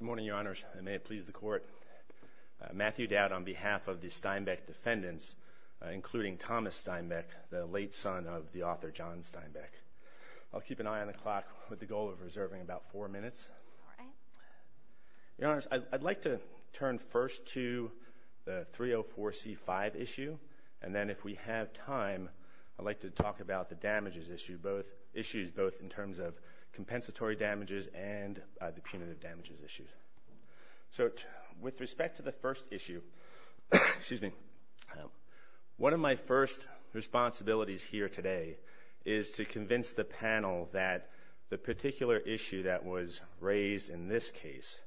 Good morning, your honors. May it please the court. Matthew Dowd on behalf of the Steinbeck defendants, including Thomas Steinbeck, the late son of the author John Steinbeck. I'll keep an eye on the clock with the goal of reserving about four minutes. Your honors, I'd like to turn first to the 304c5 issue and then if we have time I'd like to talk about the damages issue both issues both in terms of damages issues. So with respect to the first issue, excuse me, one of my first responsibilities here today is to convince the panel that the particular issue that was raised in this case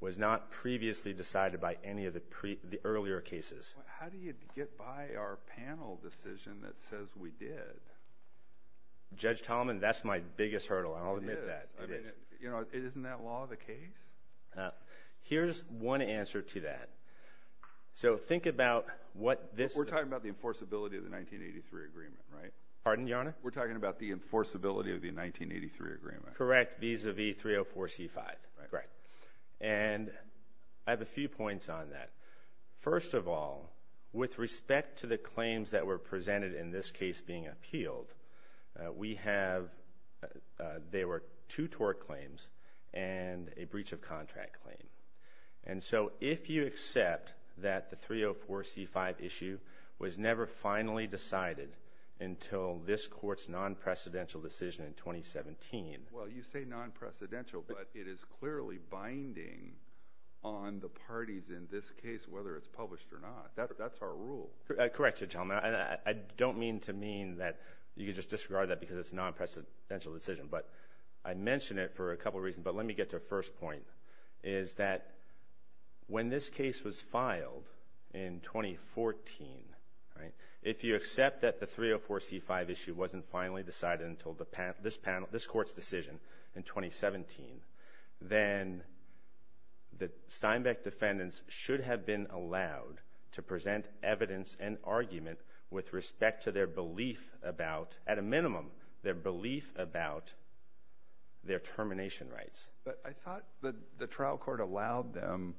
was not previously decided by any of the earlier cases. How do you get by our panel decision that says we did? Judge Tolman, that's my biggest hurdle. I'll admit that. You know it isn't that law of the case? Here's one answer to that. So think about what this... We're talking about the enforceability of the 1983 agreement, right? Pardon, your honor? We're talking about the enforceability of the 1983 agreement. Correct, vis-a-vis 304c5. Right. And I have a few points on that. First of all, with respect to the claims that were presented in this case being appealed, we have, there were two court claims and a breach of contract claim. And so if you accept that the 304c5 issue was never finally decided until this court's non-precedential decision in 2017... Well you say non-precedential, but it is clearly binding on the parties in this case, whether it's published or not. That's our rule. Correct, Judge Tolman. I don't mean to mean that you could just disregard that because it's a for a couple reasons, but let me get to the first point. Is that when this case was filed in 2014, right, if you accept that the 304c5 issue wasn't finally decided until this panel, this court's decision in 2017, then the Steinbeck defendants should have been allowed to present evidence and argument with minimum their belief about their termination rights. But I thought that the trial court allowed them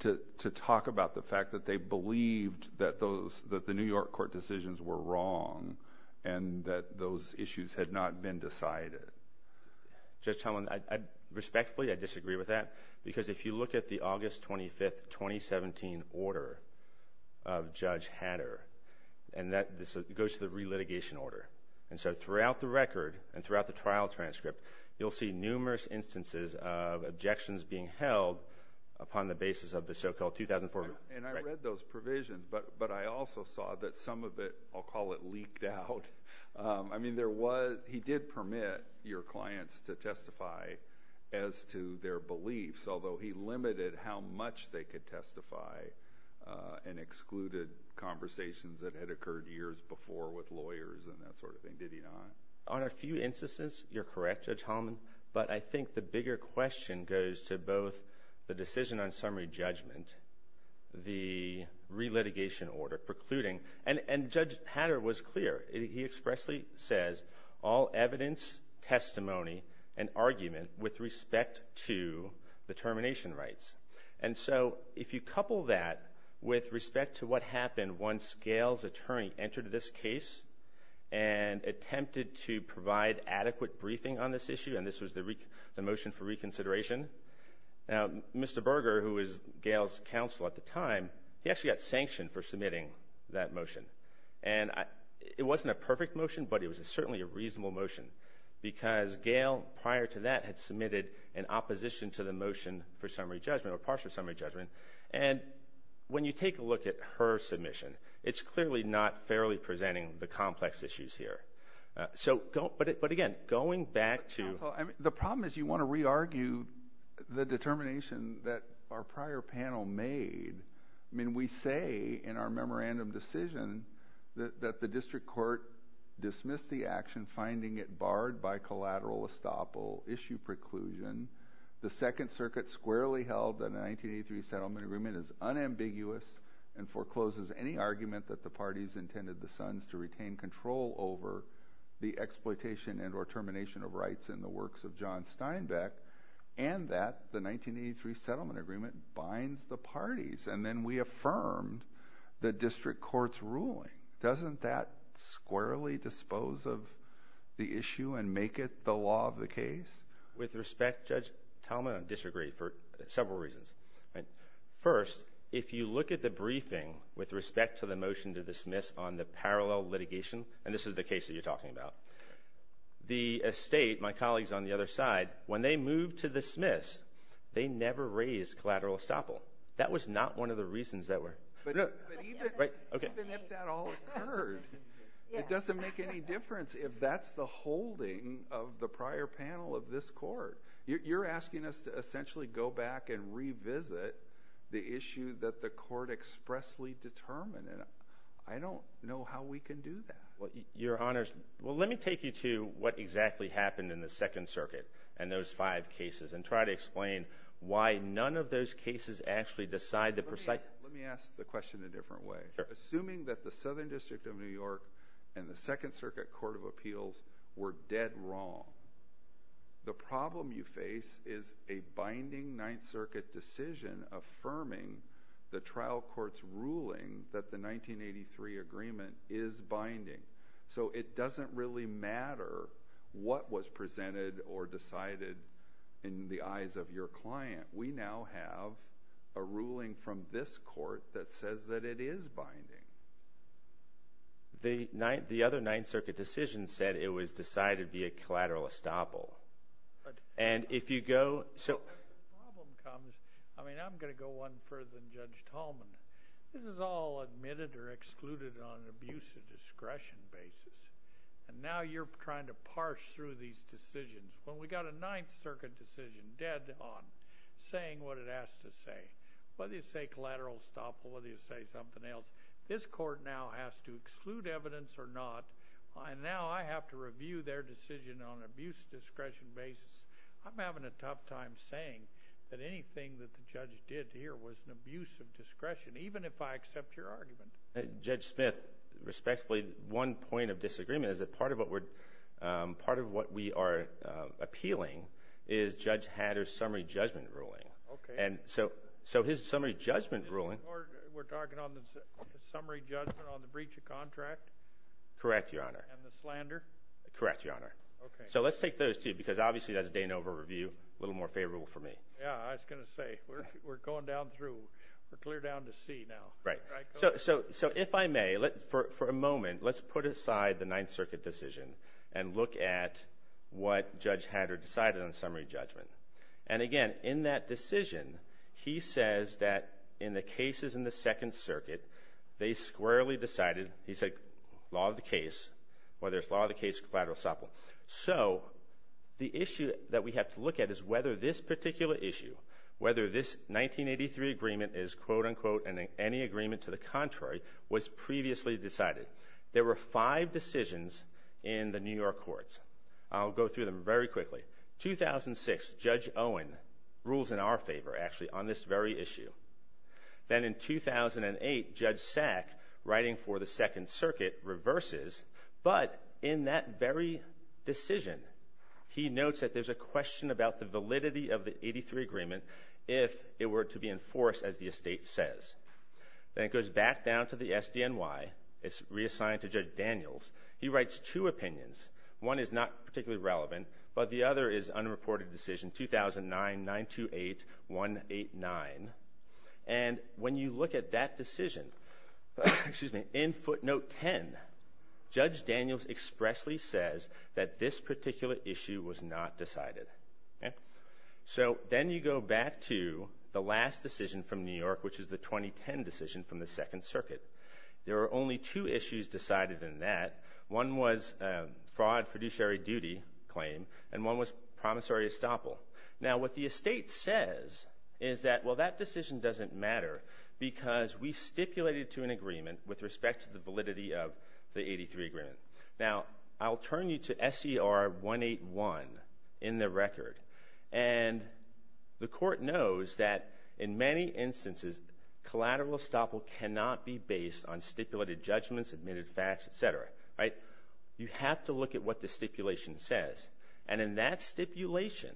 to talk about the fact that they believed that those, that the New York court decisions were wrong and that those issues had not been decided. Judge Tolman, I respectfully, I disagree with that because if you look at the August 25th, 2017 order of Judge Hatter and that this goes to the litigation order, and so throughout the record and throughout the trial transcript, you'll see numerous instances of objections being held upon the basis of the so-called 2004. And I read those provisions, but I also saw that some of it, I'll call it leaked out. I mean there was, he did permit your clients to testify as to their beliefs, although he limited how much they could testify and lawyers and that sort of thing, did he not? On a few instances, you're correct, Judge Holman, but I think the bigger question goes to both the decision on summary judgment, the re-litigation order precluding, and and Judge Hatter was clear. He expressly says all evidence, testimony, and argument with respect to the termination rights. And so if you couple that with respect to what happened once Gail's attorney entered this case and attempted to provide adequate briefing on this issue, and this was the motion for reconsideration, Mr. Berger, who was Gail's counsel at the time, he actually got sanctioned for submitting that motion. And it wasn't a perfect motion, but it was certainly a reasonable motion because Gail, prior to that, had submitted an opposition to the motion for summary judgment or partial summary judgment. And when you take a look at her submission, it's clearly not fairly presenting the complex issues here. So, but again, going back to... The problem is you want to re-argue the determination that our prior panel made. I mean, we say in our memorandum decision that the district court dismissed the action, finding it barred by collateral estoppel issue preclusion. The Second Circuit squarely held that the 1983 Settlement Agreement is unambiguous and forecloses any argument that the parties intended the Sons to retain control over the exploitation and or termination of rights in the works of John Steinbeck, and that the 1983 Settlement Agreement binds the parties. And then we affirmed the district court's ruling. Doesn't that squarely dispose of the issue and make it the law of the case? With respect, Judge Talmadge, I disagree for several reasons. First, if you look at the briefing with respect to the motion to dismiss on the parallel litigation, and this is the case that you're talking about, the estate, my colleagues on the other side, when they moved to dismiss, they never raised collateral estoppel. That was not one of the reasons that were... But even if that all occurred, it doesn't make any difference if that's the holding of the prior panel of this court. You're asking us to essentially go back and revisit the issue that the court expressly determined, and I don't know how we can do that. Your Honors, well let me take you to what exactly happened in the Second Circuit and those five cases and try to explain why none of those cases actually decide that... Let me ask the question a different way. Assuming that the Southern District of New York and the Second Circuit Court of Appeals were dead wrong, the problem you face is a binding Ninth Circuit decision affirming the trial court's ruling that the 1983 agreement is binding. So it doesn't really matter what was presented or decided in the eyes of your client. We now have a ruling from this court that says that it is binding. The other Ninth Circuit decision said it was decided via collateral estoppel. And if you go... The problem comes... I mean, I'm going to go one further than Judge Tallman. This is all admitted or excluded on an abuse of discretion basis, and now you're trying to parse through these decisions. When we got a Ninth Circuit decision dead on saying what it has to say, whether you say collateral estoppel, whether you say something else, this court now has to review their decision on an abuse of discretion basis. I'm having a tough time saying that anything that the judge did here was an abuse of discretion, even if I accept your argument. Judge Smith, respectfully, one point of disagreement is that part of what we are appealing is Judge Hatter's summary judgment ruling. Okay. And so his summary judgment ruling... We're talking on the summary judgment on the breach of contract? Correct, Your Honor. And the slander? Correct, Your Honor. Okay. So let's take those two, because obviously that's a Danover review, a little more favorable for me. Yeah, I was going to say, we're going down through... We're clear down to C now. Right. So if I may, for a moment, let's put aside the Ninth Circuit decision and look at what Judge Hatter decided on summary judgment. And again, in that decision, he says that in the cases in the Second Circuit, they squarely decided, he said, law of the case, whether it's law of the case or collateral supplement. So the issue that we have to look at is whether this particular issue, whether this 1983 agreement is, quote unquote, any agreement to the contrary, was previously decided. There were five decisions in the New York courts. I'll go through them very quickly. 2006, Judge Owen rules in our favor, actually, on this very issue. Then in 2008, Judge Sack, writing for the Second Circuit, reverses. But in that very decision, he notes that there's a question about the validity of the 83 agreement if it were to be enforced, as the estate says. Then it goes back down to the SDNY. It's reassigned to Judge Daniels. He writes two opinions. One is not particularly relevant, but the other is unreported decision 2009-928-189. And when you look at that decision, in footnote 10, Judge Daniels expressly says that this particular issue was not decided. So then you go back to the last decision from New York, which is the 2010 decision from the Second Circuit. There are only two issues decided in that. One was fraud fiduciary duty claim, and one was promissory estoppel. Now, what the estate says is that, well, that decision doesn't matter because we stipulated to an agreement with respect to the validity of the 83 agreement. Now, I'll turn you to SCR 181 in the record. And the court knows that in many instances, collateral estoppel cannot be based on stipulated judgments, admitted facts, etc. You have to look at what the stipulation says. And in that stipulation,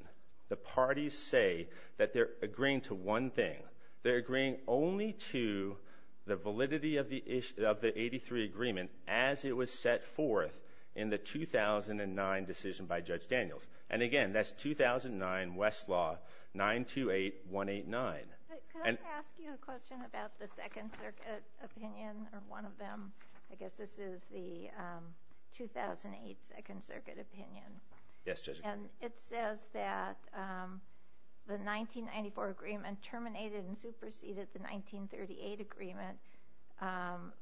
the parties say that they're agreeing to one thing. They're agreeing only to the validity of the 83 agreement as it was set forth in the 2009 decision by Judge Daniels. And again, that's 2009, Westlaw, 928-189. Can I ask you a question about the Second Circuit opinion, or one of them? I guess this is the 2008 Second Circuit opinion. Yes, Judge. And it says that the 1994 agreement terminated and superseded the 1938 agreement,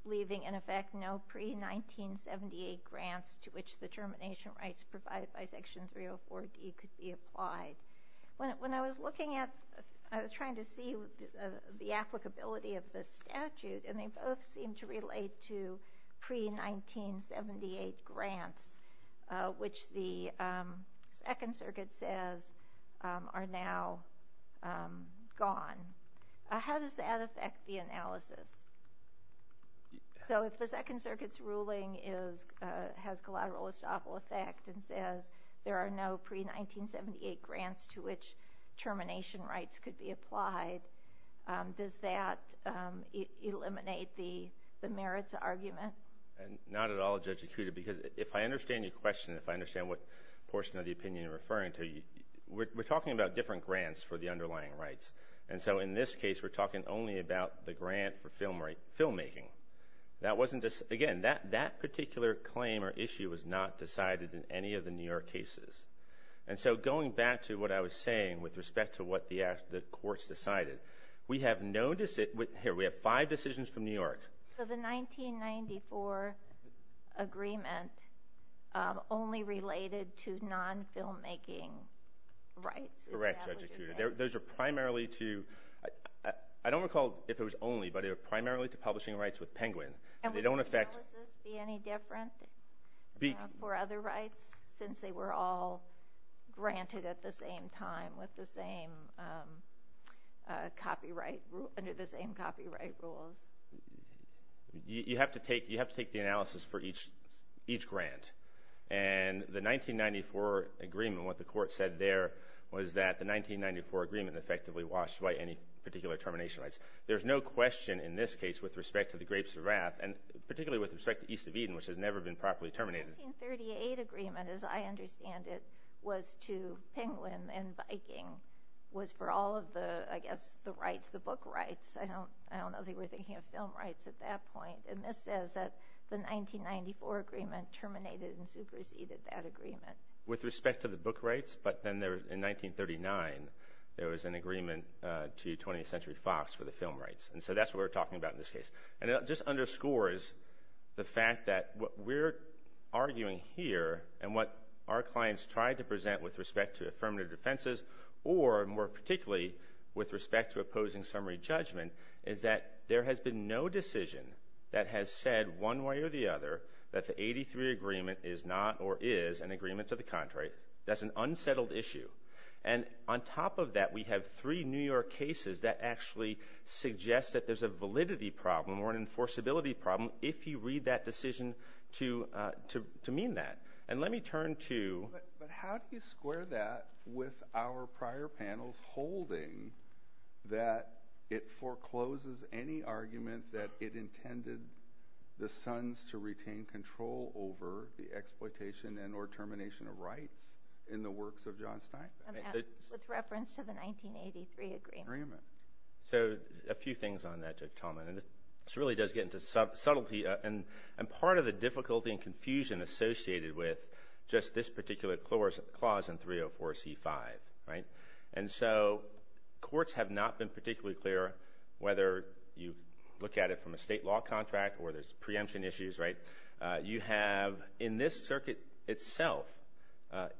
leaving, in effect, no pre-1978 grants to which the termination rights provided by Section 304D could be applied. When I was looking at, I was trying to see the applicability of this statute, and they both seem to relate to pre-1978 grants, which the Second Circuit says are now gone. How does that affect the analysis? So if the Second Circuit's ruling has collateral estoppel effect and says there are no pre-1978 grants to which termination rights could be applied, does that eliminate the merits argument? Not at all, Judge Akuta, because if I understand your question, if I understand what portion of the opinion you're referring to, we're talking about different grants for the underlying rights. And so in this case, we're talking only about the grant for filmmaking. Again, that particular claim or issue was not decided in any of the New York cases. And so going back to what I was saying with respect to what the courts decided, we have five decisions from New York. So the 1994 agreement only related to non-filmmaking rights, is that what you're saying? Correct, Judge Akuta. Those are primarily to – I don't recall if it was only, but it was primarily to publishing rights with Penguin. And would analysis be any different for other rights, since they were all granted at the same time with the same copyright – under the same copyright rules? You have to take the analysis for each grant. And the 1994 agreement, what the court said there, was that the 1994 agreement effectively washed away any particular termination rights. There's no question in this case with respect to the Grapes of Wrath, and particularly with respect to East of Eden, which has never been properly terminated. The 1938 agreement, as I understand it, was to Penguin and Viking, was for all of the, I guess, the rights, the book rights. I don't know if they were thinking of film rights at that point. And this says that the 1994 agreement terminated and superseded that agreement. With respect to the book rights, but then in 1939, there was an agreement to 20th Century Fox for the film rights. And so that's what we're talking about in this case. And it just underscores the fact that what we're arguing here and what our clients tried to present with respect to affirmative defenses, or more particularly with respect to opposing summary judgment, is that there has been no decision that has said one way or the other that the 83 agreement is not or is an agreement to the contrary. That's an unsettled issue. And on top of that, we have three New York cases that actually suggest that there's a validity problem or an enforceability problem if you read that decision to mean that. But how do you square that with our prior panels holding that it forecloses any arguments that it intended the Sons to retain control over the exploitation and or termination of rights in the works of John Steinbeck? With reference to the 1983 agreement. So a few things on that, Judge Talman. And this really does get into subtlety and part of the difficulty and confusion associated with just this particular clause in 304C5. And so courts have not been particularly clear whether you look at it from a state law contract or there's preemption issues. You have in this circuit itself,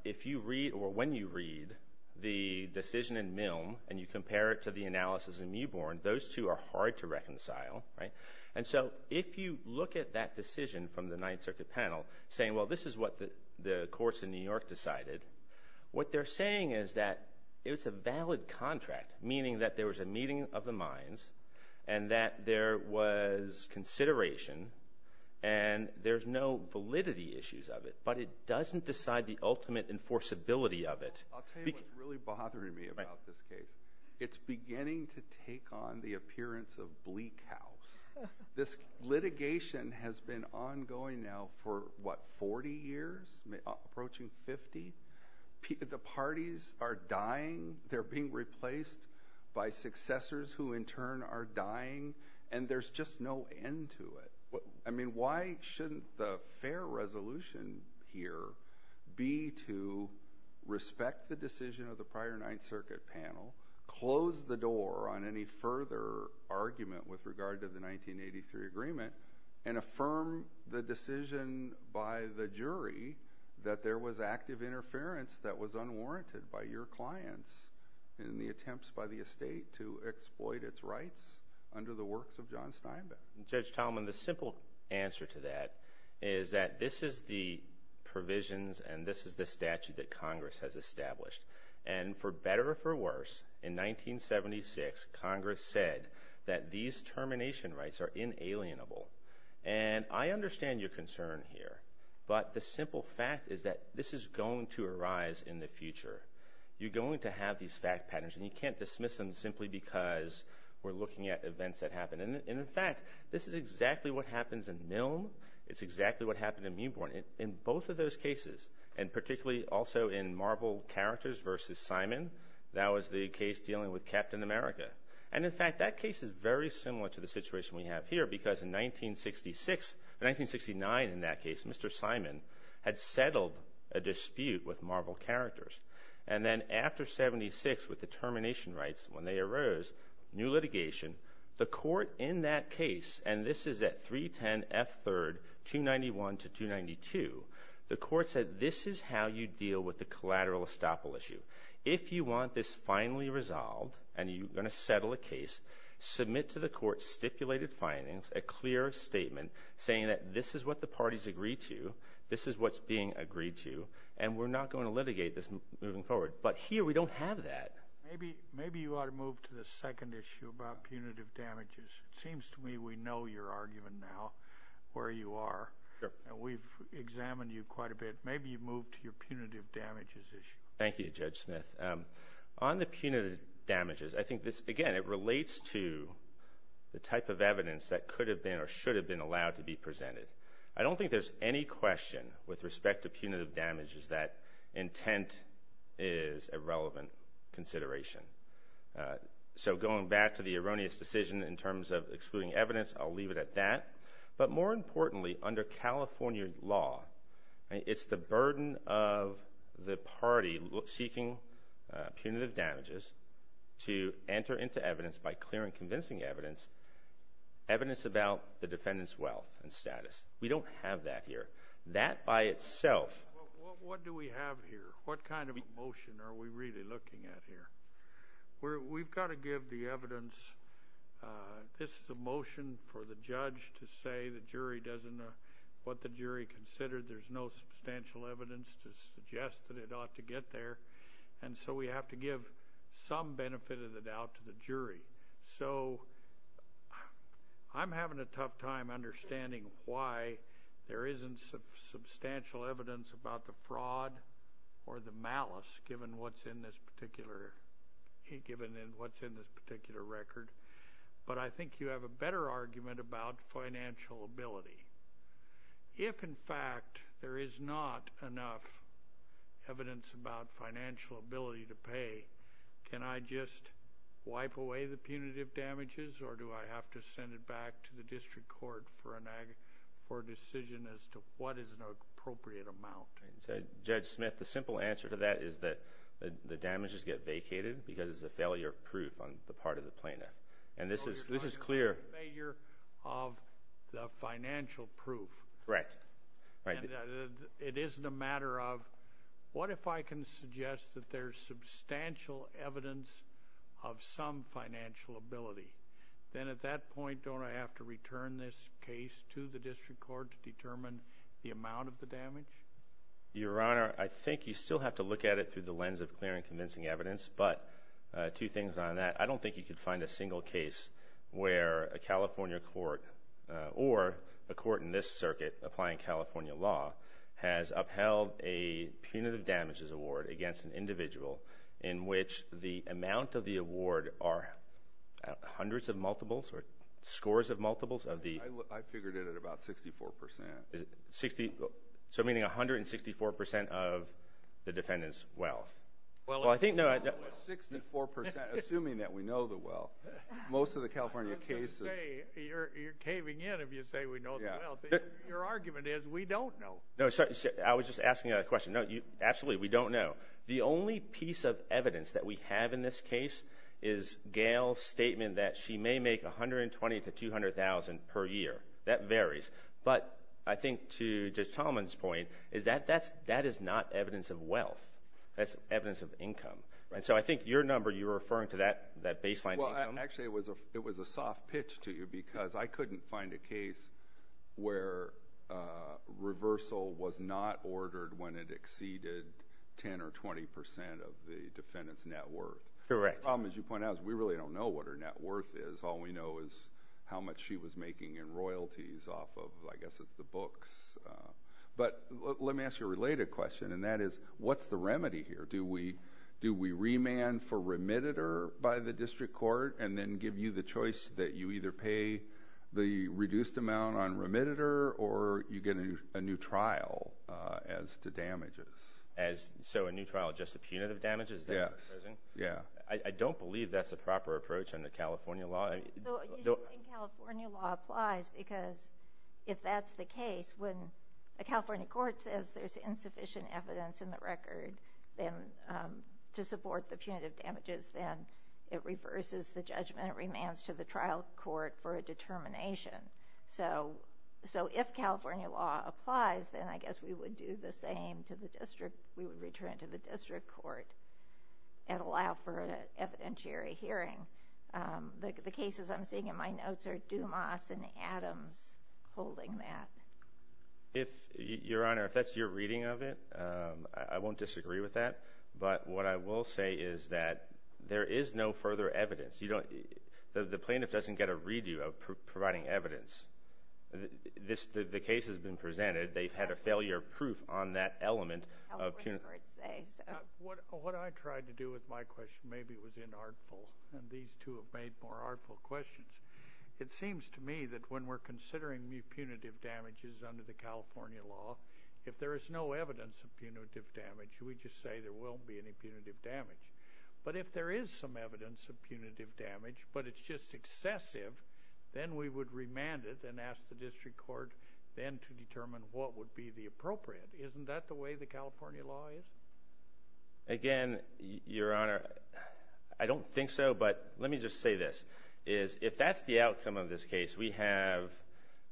if you read or when you read the decision in Milne and you compare it to the analysis in Meabourn, those two are hard to reconcile. And so if you look at that decision from the Ninth Circuit panel saying, well, this is what the courts in New York decided, what they're saying is that it was a valid contract, meaning that there was a meeting of the minds and that there was consideration and there's no validity issues of it, but it doesn't decide the ultimate enforceability of it. I'll tell you what's really bothering me about this case. It's beginning to take on the appearance of bleak house. This litigation has been ongoing now for, what, 40 years, approaching 50. The parties are dying. They're being replaced by successors who in turn are dying. And there's just no end to it. I mean, why shouldn't the fair resolution here be to respect the decision of the prior Ninth Circuit panel, close the door on any further argument with regard to the 1983 agreement, and affirm the decision by the jury that there was active interference that was unwarranted by your clients in the attempts by the estate to exploit its rights under the works of John Steinbeck? Judge Talman, the simple answer to that is that this is the provisions and this is the statute that Congress has established. And for better or for worse, in 1976, Congress said that these termination rights are inalienable. And I understand your concern here, but the simple fact is that this is going to arise in the future. You're going to have these fact patterns, and you can't dismiss them simply because we're looking at events that happen. And, in fact, this is exactly what happens in Milne. It's exactly what happened in Meuborne. In both of those cases, and particularly also in Marvel Characters v. Simon, that was the case dealing with Captain America. And, in fact, that case is very similar to the situation we have here because in 1966, in 1969 in that case, Mr. Simon had settled a dispute with Marvel Characters. And then after 76 with the termination rights, when they arose, new litigation, the court in that case, and this is at 310 F. 3rd, 291 to 292, the court said this is how you deal with the collateral estoppel issue. If you want this finally resolved and you're going to settle a case, submit to the court stipulated findings, a clear statement, saying that this is what the parties agreed to, this is what's being agreed to, and we're not going to litigate this moving forward. But here we don't have that. Maybe you ought to move to the second issue about punitive damages. It seems to me we know your argument now, where you are, and we've examined you quite a bit. Maybe you move to your punitive damages issue. Thank you, Judge Smith. On the punitive damages, I think this, again, it relates to the type of evidence that could have been or should have been allowed to be presented. I don't think there's any question with respect to punitive damages that intent is a relevant consideration. So going back to the erroneous decision in terms of excluding evidence, I'll leave it at that. But more importantly, under California law, it's the burden of the party seeking punitive damages to enter into evidence by clear and convincing evidence, evidence about the defendant's wealth and status. We don't have that here. That by itself. What do we have here? What kind of motion are we really looking at here? We've got to give the evidence. This is a motion for the judge to say the jury doesn't know what the jury considered. There's no substantial evidence to suggest that it ought to get there. And so we have to give some benefit of the doubt to the jury. So I'm having a tough time understanding why there isn't substantial evidence about the fraud or the malice given what's in this particular record. But I think you have a better argument about financial ability. If, in fact, there is not enough evidence about financial ability to pay, can I just wipe away the punitive damages or do I have to send it back to the district court for a decision as to what is an appropriate amount? Judge Smith, the simple answer to that is that the damages get vacated because it's a failure of proof on the part of the plaintiff. And this is clear. It's a failure of the financial proof. Correct. It isn't a matter of what if I can suggest that there's substantial evidence of some financial ability? Then at that point, don't I have to return this case to the district court to determine the amount of the damage? Your Honor, I think you still have to look at it through the lens of clear and convincing evidence. But two things on that. I don't think you could find a single case where a California court or a court in this circuit applying California law has upheld a punitive damages award against an individual in which the amount of the award are hundreds of multiples or scores of multiples of the… I figured it at about 64 percent. So meaning 164 percent of the defendant's wealth. 64 percent, assuming that we know the wealth. Most of the California cases… You're caving in if you say we know the wealth. Your argument is we don't know. I was just asking a question. Absolutely, we don't know. The only piece of evidence that we have in this case is Gail's statement that she may make $120,000 to $200,000 per year. That varies. But I think to Judge Tallman's point, that is not evidence of wealth. That's evidence of income. So I think your number, you're referring to that baseline income. Actually, it was a soft pitch to you because I couldn't find a case where reversal was not ordered when it exceeded 10 or 20 percent of the defendant's net worth. The problem, as you point out, is we really don't know what her net worth is. All we know is how much she was making in royalties off of, I guess it's the books. But let me ask you a related question, and that is what's the remedy here? Do we remand for remitter by the district court and then give you the choice that you either pay the reduced amount on remitter or you get a new trial as to damages? So a new trial just to punitive damages? Yes. I don't believe that's the proper approach under California law. You think California law applies because if that's the case, when a California court says there's insufficient evidence in the record to support the punitive damages, then it reverses the judgment. It remands to the trial court for a determination. So if California law applies, then I guess we would do the same to the district. We would return to the district court and allow for an evidentiary hearing. The cases I'm seeing in my notes are Dumas and Adams holding that. Your Honor, if that's your reading of it, I won't disagree with that. But what I will say is that there is no further evidence. The plaintiff doesn't get a redo of providing evidence. The case has been presented. They've had a failure of proof on that element of punitive damages. What I tried to do with my question, maybe it was inartful, and these two have made more artful questions, it seems to me that when we're considering punitive damages under the California law, if there is no evidence of punitive damage, we just say there won't be any punitive damage. But if there is some evidence of punitive damage but it's just excessive, then we would remand it and ask the district court then to determine what would be the appropriate. Isn't that the way the California law is? Again, Your Honor, I don't think so, but let me just say this. If that's the outcome of this case, we have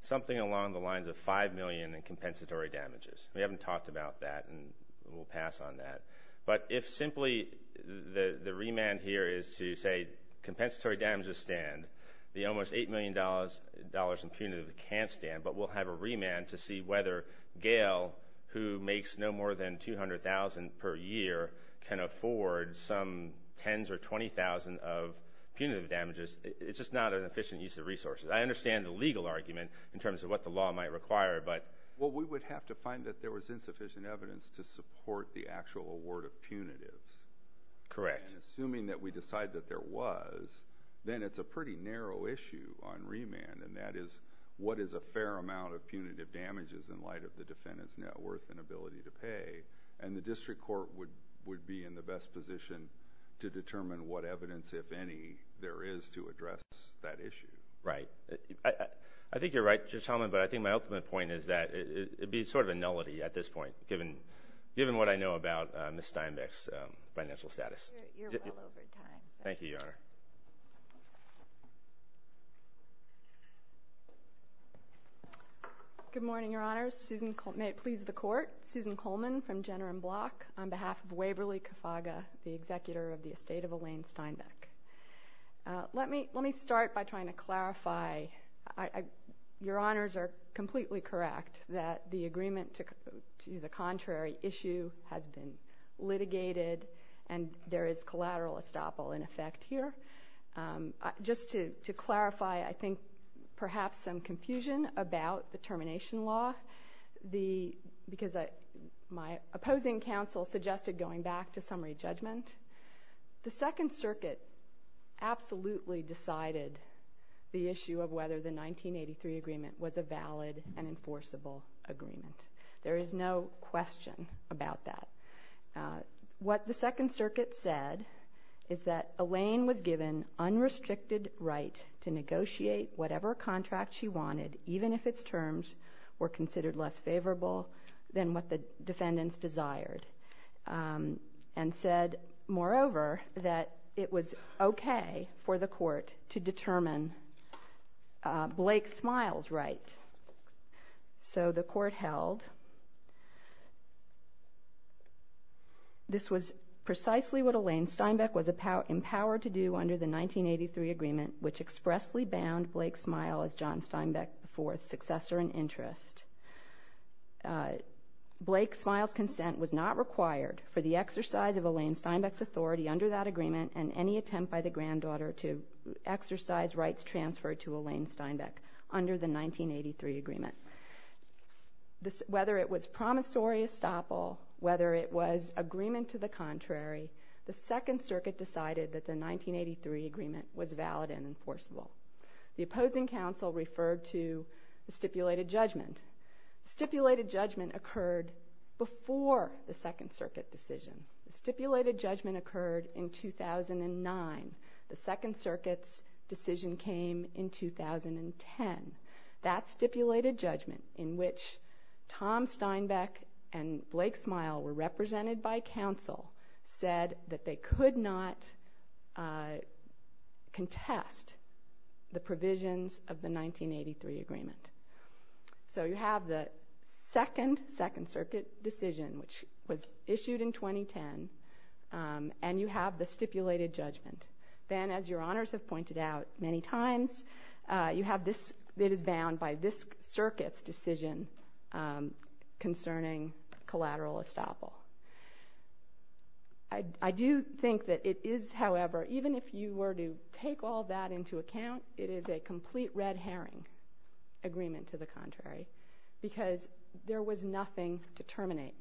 something along the lines of $5 million in compensatory damages. We haven't talked about that, and we'll pass on that. But if simply the remand here is to say compensatory damages stand, the almost $8 million in punitive can't stand, but we'll have a remand to see whether Gail, who makes no more than $200,000 per year, can afford some tens or 20,000 of punitive damages. It's just not an efficient use of resources. I understand the legal argument in terms of what the law might require, but... Well, we would have to find that there was insufficient evidence to support the actual award of punitives. Correct. Assuming that we decide that there was, then it's a pretty narrow issue on remand, and that is what is a fair amount of punitive damages in light of the defendant's net worth and ability to pay, and the district court would be in the best position to determine what evidence, if any, there is to address that issue. Right. I think you're right, Justice Hellman, but I think my ultimate point is that it would be sort of a nullity at this point, given what I know about Ms. Steinbeck's financial status. You're well over time. Thank you, Your Honor. Good morning, Your Honors. May it please the Court, Susan Coleman from Jenner and Block on behalf of Waverly Cofaga, the executor of the estate of Elaine Steinbeck. Let me start by trying to clarify. Your Honors are completely correct that the agreement to the contrary issue has been litigated, and there is collateral estoppel in effect here. Just to clarify, I think perhaps some confusion about the termination law, because my opposing counsel suggested going back to summary judgment. The Second Circuit absolutely decided the issue of whether the 1983 agreement was a valid and enforceable agreement. There is no question about that. What the Second Circuit said is that Elaine was given unrestricted right to negotiate whatever contract she wanted, even if its terms were considered less favorable than what the defendants desired, and said, moreover, that it was okay for the Court to determine Blake Smiles' right. So the Court held this was precisely what Elaine Steinbeck was empowered to do under the 1983 agreement, which expressly banned Blake Smiles as John Steinbeck IV's successor in interest. Blake Smiles' consent was not required for the exercise of Elaine Steinbeck's authority under that agreement and any attempt by the granddaughter to exercise rights transferred to Elaine Steinbeck under the 1983 agreement. Whether it was promissory estoppel, whether it was agreement to the contrary, the Second Circuit decided that the 1983 agreement was valid and enforceable. The opposing counsel referred to the stipulated judgment. The stipulated judgment occurred before the Second Circuit decision. The stipulated judgment occurred in 2009. The Second Circuit's decision came in 2010. That stipulated judgment, in which Tom Steinbeck and Blake Smile were represented by counsel, said that they could not contest the provisions of the 1983 agreement. So you have the Second Circuit decision, which was issued in 2010, and you have the stipulated judgment. Then, as your honors have pointed out many times, you have this that is bound by this Circuit's decision concerning collateral estoppel. I do think that it is, however, even if you were to take all that into account, it is a complete red herring agreement to the contrary because there was nothing to terminate.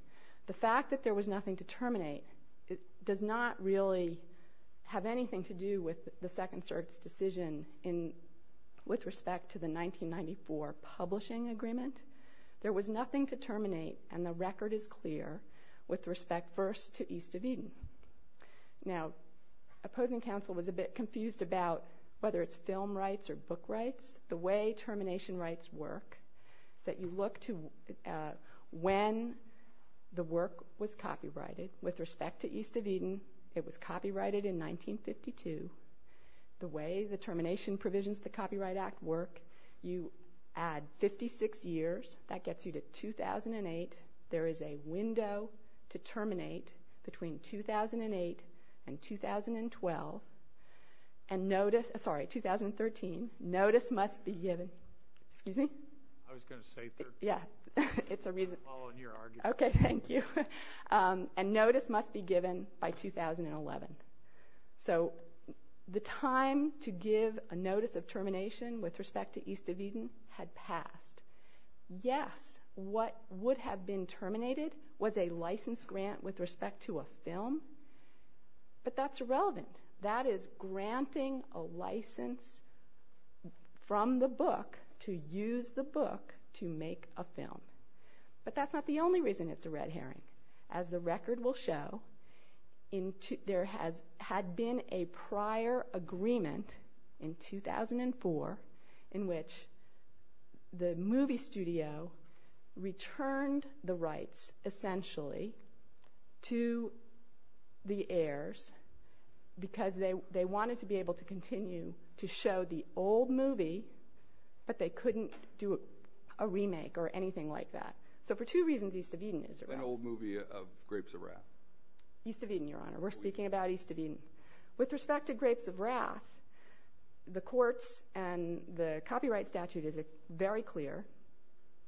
The fact that there was nothing to terminate does not really have anything to do with the Second Circuit's decision with respect to the 1994 publishing agreement. There was nothing to terminate, and the record is clear, with respect first to East of Eden. Now, opposing counsel was a bit confused about whether it's film rights or book rights. The way termination rights work is that you look to when the work was copyrighted. With respect to East of Eden, it was copyrighted in 1952. The way the termination provisions of the Copyright Act work, you add 56 years. That gets you to 2008. There is a window to terminate between 2008 and 2012. And notice, sorry, 2013. Notice must be given. Excuse me? I was going to say 13. Yeah, it's a reason. I'm following your argument. Okay, thank you. And notice must be given by 2011. So the time to give a notice of termination with respect to East of Eden had passed. Yes, what would have been terminated was a license grant with respect to a film, but that's irrelevant. That is granting a license from the book to use the book to make a film. But that's not the only reason it's a red herring. As the record will show, there had been a prior agreement in 2004 in which the movie studio returned the rights essentially to the heirs because they wanted to be able to continue to show the old movie, but they couldn't do a remake or anything like that. So for two reasons, East of Eden is a red herring. An old movie of Grapes of Wrath. East of Eden, Your Honor. We're speaking about East of Eden. With respect to Grapes of Wrath, the courts and the copyright statute is very clear.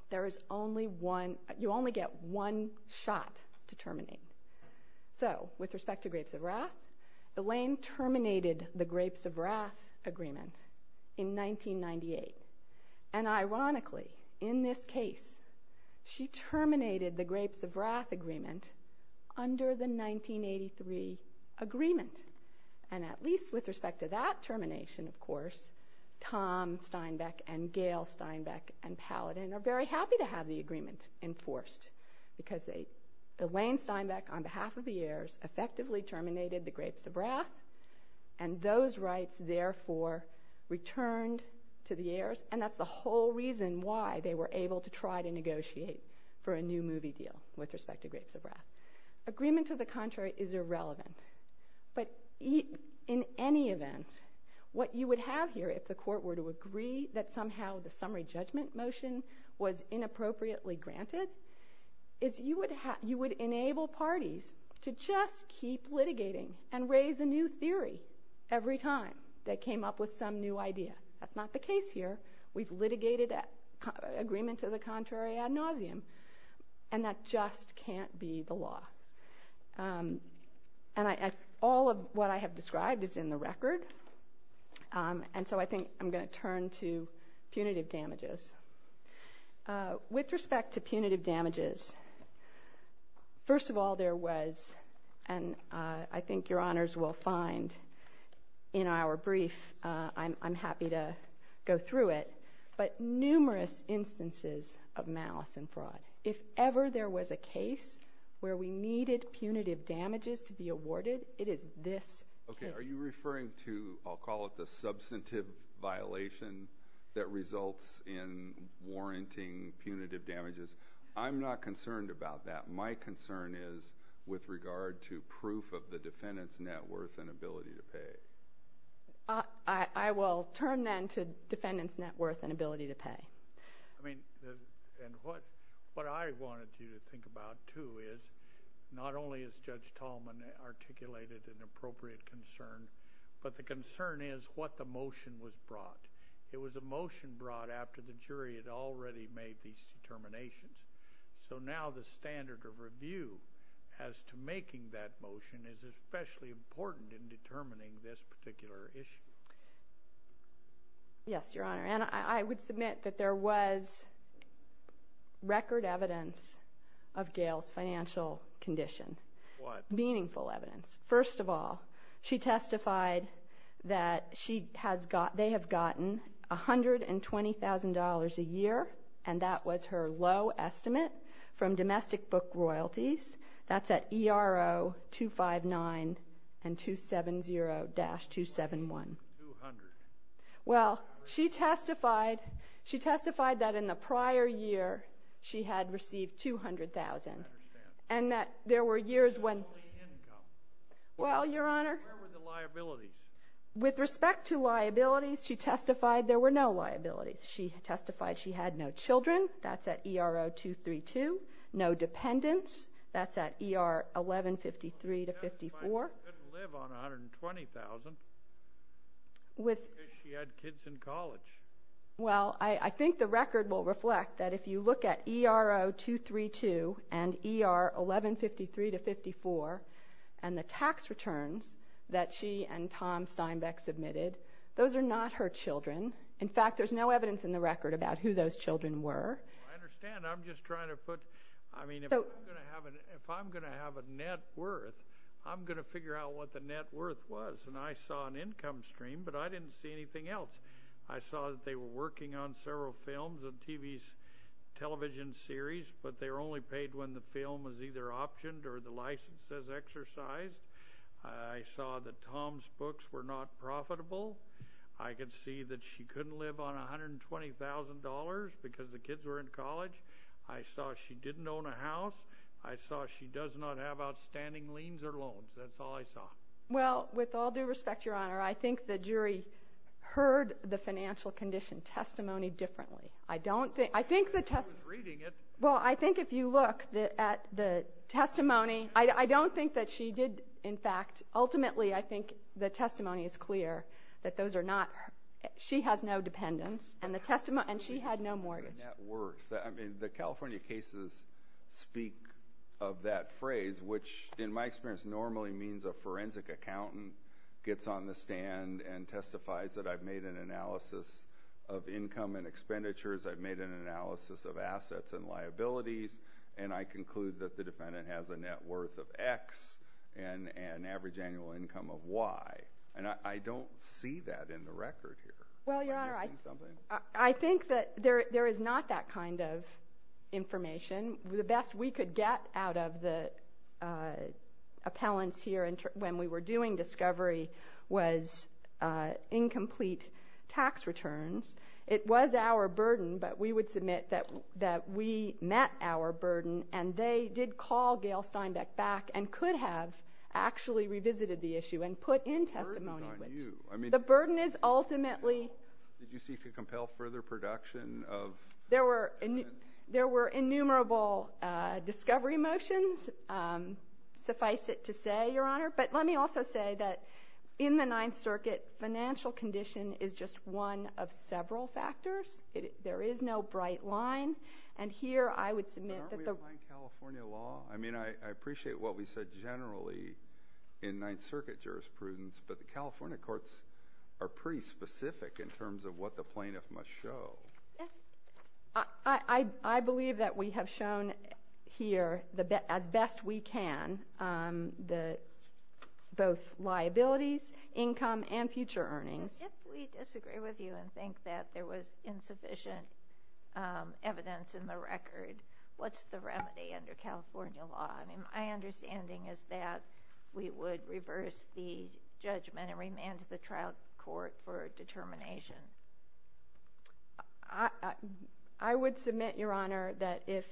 There is only one, you only get one shot to terminate. So with respect to Grapes of Wrath, Elaine terminated the Grapes of Wrath agreement in 1998. And ironically, in this case, she terminated the Grapes of Wrath agreement under the 1983 agreement. And at least with respect to that termination, of course, Tom Steinbeck and Gail Steinbeck and Paladin are very happy to have the agreement enforced because Elaine Steinbeck, on behalf of the heirs, effectively terminated the Grapes of Wrath and those rights therefore returned to the heirs. And that's the whole reason why they were able to try to negotiate for a new movie deal with respect to Grapes of Wrath. Agreement to the contrary is irrelevant. But in any event, what you would have here if the court were to agree that somehow the summary judgment motion was inappropriately granted, is you would enable parties to just keep litigating and raise a new theory every time they came up with some new idea. That's not the case here. We've litigated agreement to the contrary ad nauseum, and that just can't be the law. And all of what I have described is in the record, and so I think I'm going to turn to punitive damages. With respect to punitive damages, first of all there was, and I think Your Honors will find in our brief, I'm happy to go through it, but numerous instances of malice and fraud. If ever there was a case where we needed punitive damages to be awarded, it is this case. Okay. Are you referring to, I'll call it the substantive violation that results in warranting punitive damages? I'm not concerned about that. My concern is with regard to proof of the defendant's net worth and ability to pay. I will turn then to defendant's net worth and ability to pay. I mean, and what I wanted you to think about, too, is not only is Judge Tallman articulated an appropriate concern, but the concern is what the motion was brought. It was a motion brought after the jury had already made these determinations. So now the standard of review as to making that motion is especially important in determining this particular issue. Yes, Your Honor. And I would submit that there was record evidence of Gail's financial condition. What? Meaningful evidence. First of all, she testified that they have gotten $120,000 a year, and that was her low estimate from domestic book royalties. That's at ERO 259 and 270-271. Two hundred. Well, she testified that in the prior year she had received $200,000. I understand. And that there were years when ---- What about the income? Well, Your Honor ---- Where were the liabilities? With respect to liabilities, she testified there were no liabilities. She testified she had no children. That's at ERO 232. No dependents. That's at ERO 1153-54. She couldn't live on $120,000. Because she had kids in college. Well, I think the record will reflect that if you look at ERO 232 and ERO 1153-54 and the tax returns that she and Tom Steinbeck submitted, those are not her children. In fact, there's no evidence in the record about who those children were. I understand. I'm just trying to put ---- I mean, if I'm going to have a net worth, I'm going to figure out what the net worth was. And I saw an income stream, but I didn't see anything else. I saw that they were working on several films and television series, but they were only paid when the film was either optioned or the license was exercised. I saw that Tom's books were not profitable. I could see that she couldn't live on $120,000 because the kids were in college. I saw she didn't own a house. I saw she does not have outstanding liens or loans. That's all I saw. Well, with all due respect, Your Honor, I think the jury heard the financial condition testimony differently. I don't think ---- I was reading it. Well, I think if you look at the testimony, I don't think that she did. In fact, ultimately, I think the testimony is clear that those are not her. She has no dependents, and the testimony ---- and she had no mortgage. Net worth. I mean, the California cases speak of that phrase, which, in my experience, normally means a forensic accountant gets on the stand and testifies that I've made an analysis of income and expenditures, I've made an analysis of assets and liabilities, and I conclude that the defendant has a net worth of X and an average annual income of Y. And I don't see that in the record here. Well, Your Honor, I ---- Have you seen something? I think that there is not that kind of information. The best we could get out of the appellants here when we were doing discovery was incomplete tax returns. It was our burden, but we would submit that we met our burden, and they did call Gail Steinbeck back and could have actually revisited the issue and put in testimony. The burden is on you. The burden is ultimately ---- Well, did you seek to compel further production of ---- There were innumerable discovery motions, suffice it to say, Your Honor. But let me also say that in the Ninth Circuit, financial condition is just one of several factors. There is no bright line. And here I would submit that the ---- Aren't we abiding California law? I mean, I appreciate what we said generally in Ninth Circuit jurisprudence, but the California courts are pretty specific in terms of what the plaintiff must show. I believe that we have shown here as best we can both liabilities, income, and future earnings. If we disagree with you and think that there was insufficient evidence in the record, what's the remedy under California law? My understanding is that we would reverse the judgment and remand to the trial court for determination. I would submit, Your Honor, that if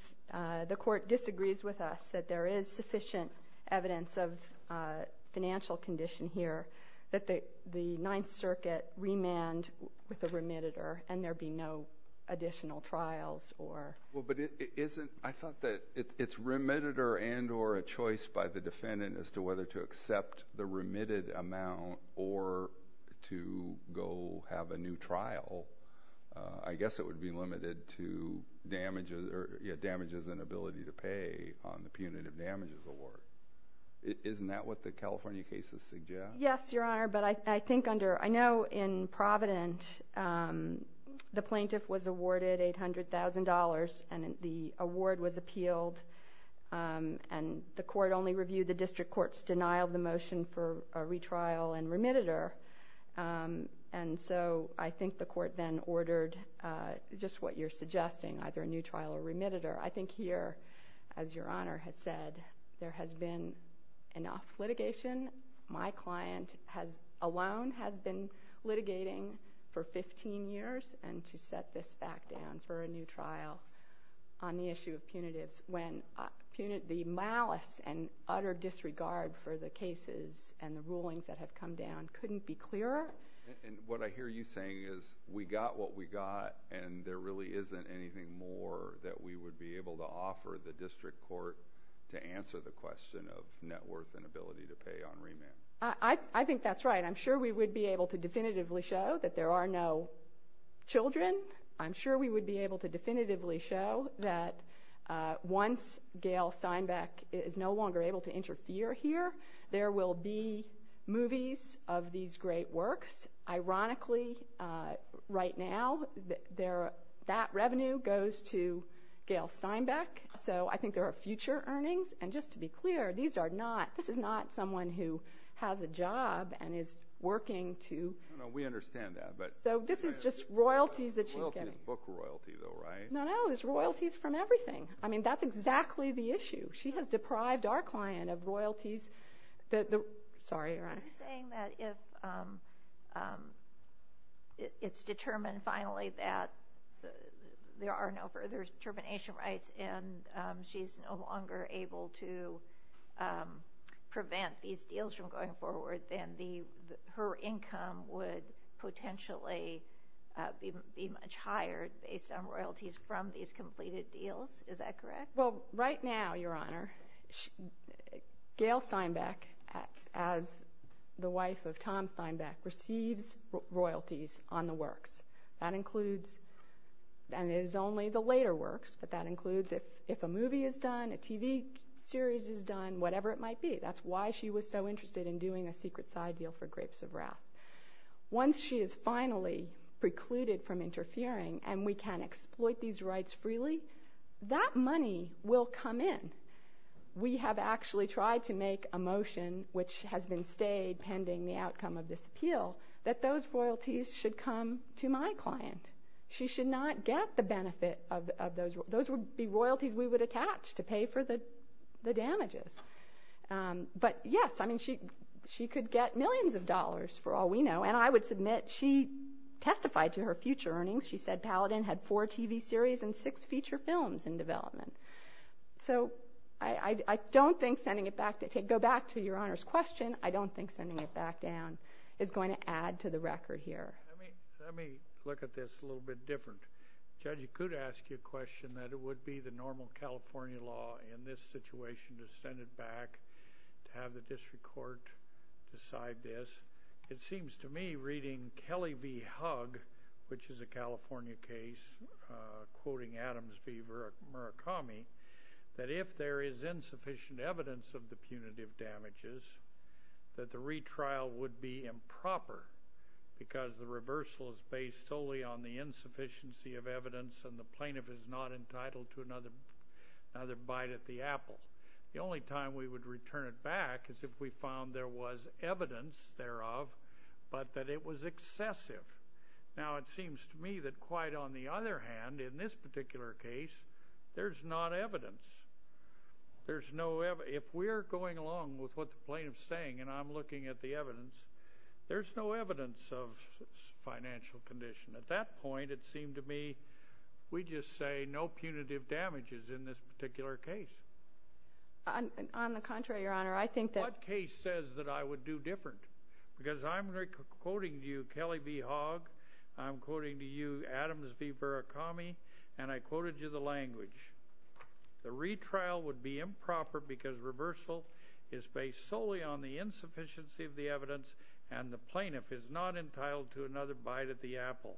the court disagrees with us, that there is sufficient evidence of financial condition here, that the Ninth Circuit remand with a remitter and there be no additional trials or ---- I thought that it's remitted and or a choice by the defendant as to whether to accept the remitted amount or to go have a new trial. I guess it would be limited to damages and ability to pay on the punitive damages award. Isn't that what the California cases suggest? Yes, Your Honor, but I think under ---- the plaintiff was awarded $800,000 and the award was appealed, and the court only reviewed the district court's denial of the motion for a retrial and remitter, and so I think the court then ordered just what you're suggesting, either a new trial or remitter. I think here, as Your Honor has said, there has been enough litigation. My client alone has been litigating for 15 years and to set this back down for a new trial on the issue of punitives when the malice and utter disregard for the cases and the rulings that have come down couldn't be clearer. What I hear you saying is we got what we got, and there really isn't anything more that we would be able to offer the district court to answer the question of net worth and ability to pay on remand. I think that's right. I'm sure we would be able to definitively show that there are no children. I'm sure we would be able to definitively show that once Gail Steinbeck is no longer able to interfere here, there will be movies of these great works. Ironically, right now, that revenue goes to Gail Steinbeck, so I think there are future earnings, and just to be clear, this is not someone who has a job and is working to No, no, we understand that. So this is just royalties that she's getting. Royalty is book royalty, though, right? No, no, it's royalties from everything. I mean, that's exactly the issue. Sorry, Your Honor. Are you saying that if it's determined finally that there are no further termination rights and she's no longer able to prevent these deals from going forward, then her income would potentially be much higher based on royalties from these completed deals? Is that correct? Well, right now, Your Honor, Gail Steinbeck, as the wife of Tom Steinbeck, receives royalties on the works. That includes, and it is only the later works, but that includes if a movie is done, a TV series is done, whatever it might be. That's why she was so interested in doing a secret side deal for Grapes of Wrath. Once she is finally precluded from interfering and we can exploit these rights freely, that money will come in. We have actually tried to make a motion, which has been stayed pending the outcome of this appeal, that those royalties should come to my client. She should not get the benefit of those. Those would be royalties we would attach to pay for the damages. But, yes, I mean, she could get millions of dollars for all we know. And I would submit she testified to her future earnings. She said Paladin had four TV series and six feature films in development. So I don't think sending it back to your Honor's question, I don't think sending it back down is going to add to the record here. Let me look at this a little bit different. Judge, you could ask your question that it would be the normal California law in this situation to send it back, to have the district court decide this. It seems to me, reading Kelly v. Hugg, which is a California case, quoting Adams v. Murakami, that if there is insufficient evidence of the punitive damages, that the retrial would be improper because the reversal is based solely on the insufficiency of evidence and the plaintiff is not entitled to another bite at the apple. The only time we would return it back is if we found there was evidence thereof but that it was excessive. Now, it seems to me that quite on the other hand, in this particular case, there's not evidence. If we're going along with what the plaintiff's saying and I'm looking at the evidence, there's no evidence of financial condition. At that point, it seemed to me we just say no punitive damages in this particular case. On the contrary, Your Honor, I think that— What case says that I would do different? Because I'm quoting to you Kelly v. Hugg, I'm quoting to you Adams v. Murakami, and I quoted you the language. The retrial would be improper because reversal is based solely on the insufficiency of the evidence and the plaintiff is not entitled to another bite at the apple.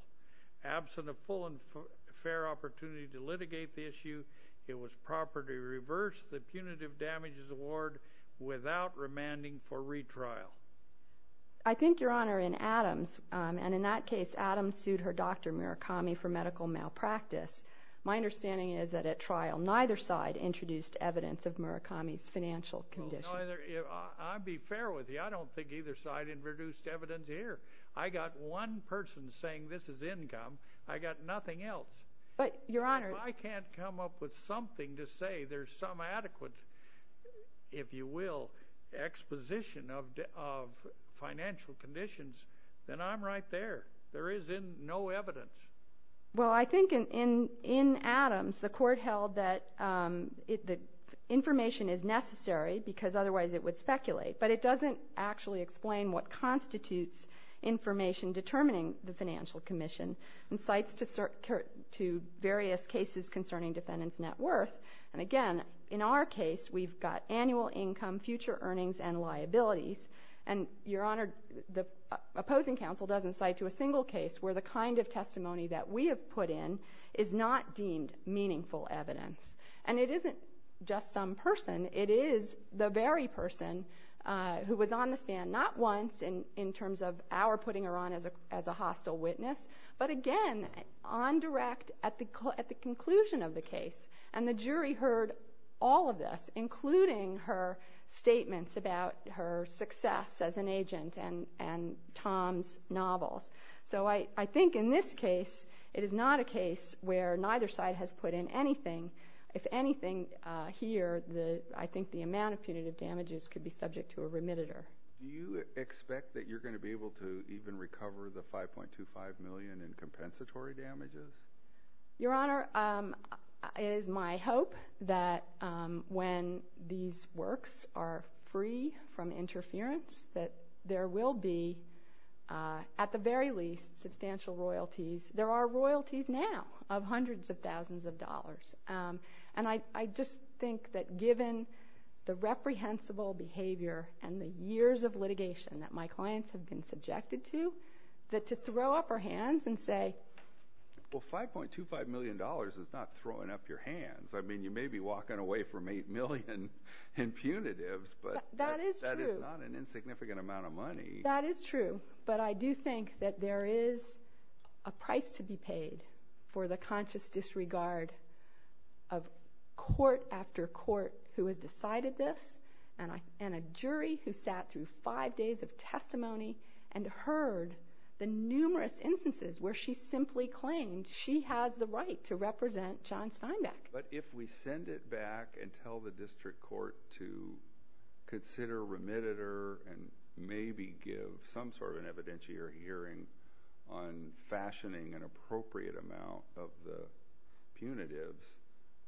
Absent a full and fair opportunity to litigate the issue, it was proper to reverse the punitive damages award without remanding for retrial. I think, Your Honor, in Adams—and in that case, Adams sued her doctor, Murakami, for medical malpractice. My understanding is that at trial, neither side introduced evidence of Murakami's financial condition. I'll be fair with you. I don't think either side introduced evidence here. I got one person saying this is income. I got nothing else. But, Your Honor— If I can't come up with something to say there's some adequate, if you will, exposition of financial conditions, then I'm right there. There is no evidence. Well, I think in Adams, the court held that information is necessary because otherwise it would speculate. But it doesn't actually explain what constitutes information determining the financial condition and cites to various cases concerning defendant's net worth. And, again, in our case, we've got annual income, future earnings, and liabilities. And, Your Honor, the opposing counsel doesn't cite to a single case where the kind of testimony that we have put in is not deemed meaningful evidence. And it isn't just some person. It is the very person who was on the stand not once in terms of our putting her on as a hostile witness, but, again, on direct at the conclusion of the case. And the jury heard all of this, including her statements about her success as an agent and Tom's novels. So I think in this case, it is not a case where neither side has put in anything. If anything here, I think the amount of punitive damages could be subject to a remittitor. Do you expect that you're going to be able to even recover the $5.25 million in compensatory damages? Your Honor, it is my hope that when these works are free from interference, that there will be, at the very least, substantial royalties. There are royalties now of hundreds of thousands of dollars. And I just think that given the reprehensible behavior and the years of litigation that my clients have been subjected to, that to throw up our hands and say... Well, $5.25 million is not throwing up your hands. I mean, you may be walking away from $8 million in punitives, but that is not an insignificant amount of money. That is true. But I do think that there is a price to be paid for the conscious disregard of court after court who has decided this, and a jury who sat through five days of testimony and heard the numerous instances where she simply claimed she has the right to represent John Steinbeck. But if we send it back and tell the district court to consider remittitor and maybe give some sort of an evidentiary hearing on fashioning an appropriate amount of the punitives,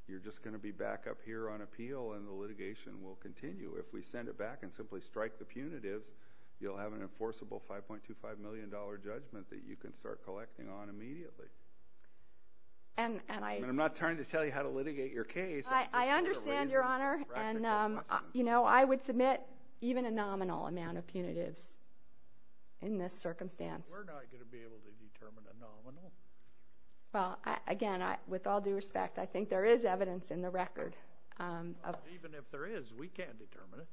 you're just going to be back up here on appeal and the litigation will continue. If we send it back and simply strike the punitives, you'll have an enforceable $5.25 million judgment that you can start collecting on immediately. And I'm not trying to tell you how to litigate your case. I understand, Your Honor, and I would submit even a nominal amount of punitives in this circumstance. Well, again, with all due respect, I think there is evidence in the record. Even if there is, we can't determine it.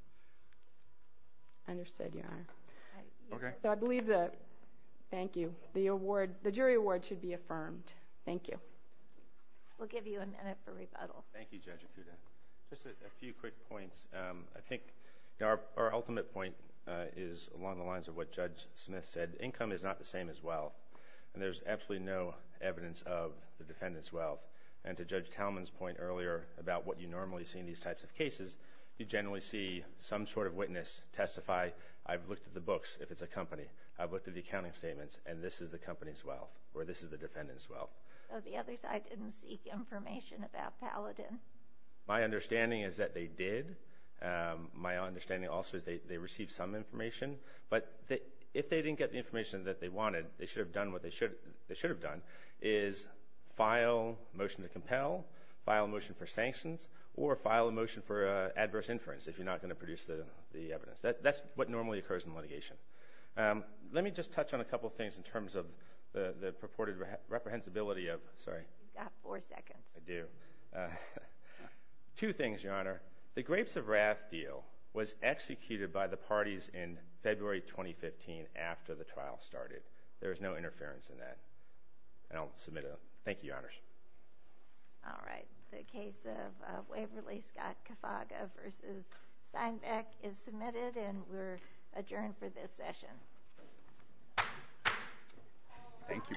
Understood, Your Honor. Okay. So I believe the jury award should be affirmed. Thank you. We'll give you a minute for rebuttal. Thank you, Judge Acuda. Just a few quick points. I think our ultimate point is along the lines of what Judge Smith said. Income is not the same as wealth. And there's absolutely no evidence of the defendant's wealth. And to Judge Talman's point earlier about what you normally see in these types of cases, you generally see some sort of witness testify, I've looked at the books, if it's a company, I've looked at the accounting statements, and this is the company's wealth or this is the defendant's wealth. The other side didn't seek information about Paladin. My understanding is that they did. My understanding also is they received some information. But if they didn't get the information that they wanted, they should have done what they should have done, is file a motion to compel, file a motion for sanctions, or file a motion for adverse inference if you're not going to produce the evidence. That's what normally occurs in litigation. Let me just touch on a couple of things in terms of the purported reprehensibility of, sorry. You've got four seconds. I do. Two things, Your Honor. The Grapes of Wrath deal was executed by the parties in February 2015 after the trial started. There was no interference in that. And I'll submit it. Thank you, Your Honors. All right. The case of Waverly-Scott-Kafaga v. Steinbeck is submitted, and we're adjourned for this session. Thank you both.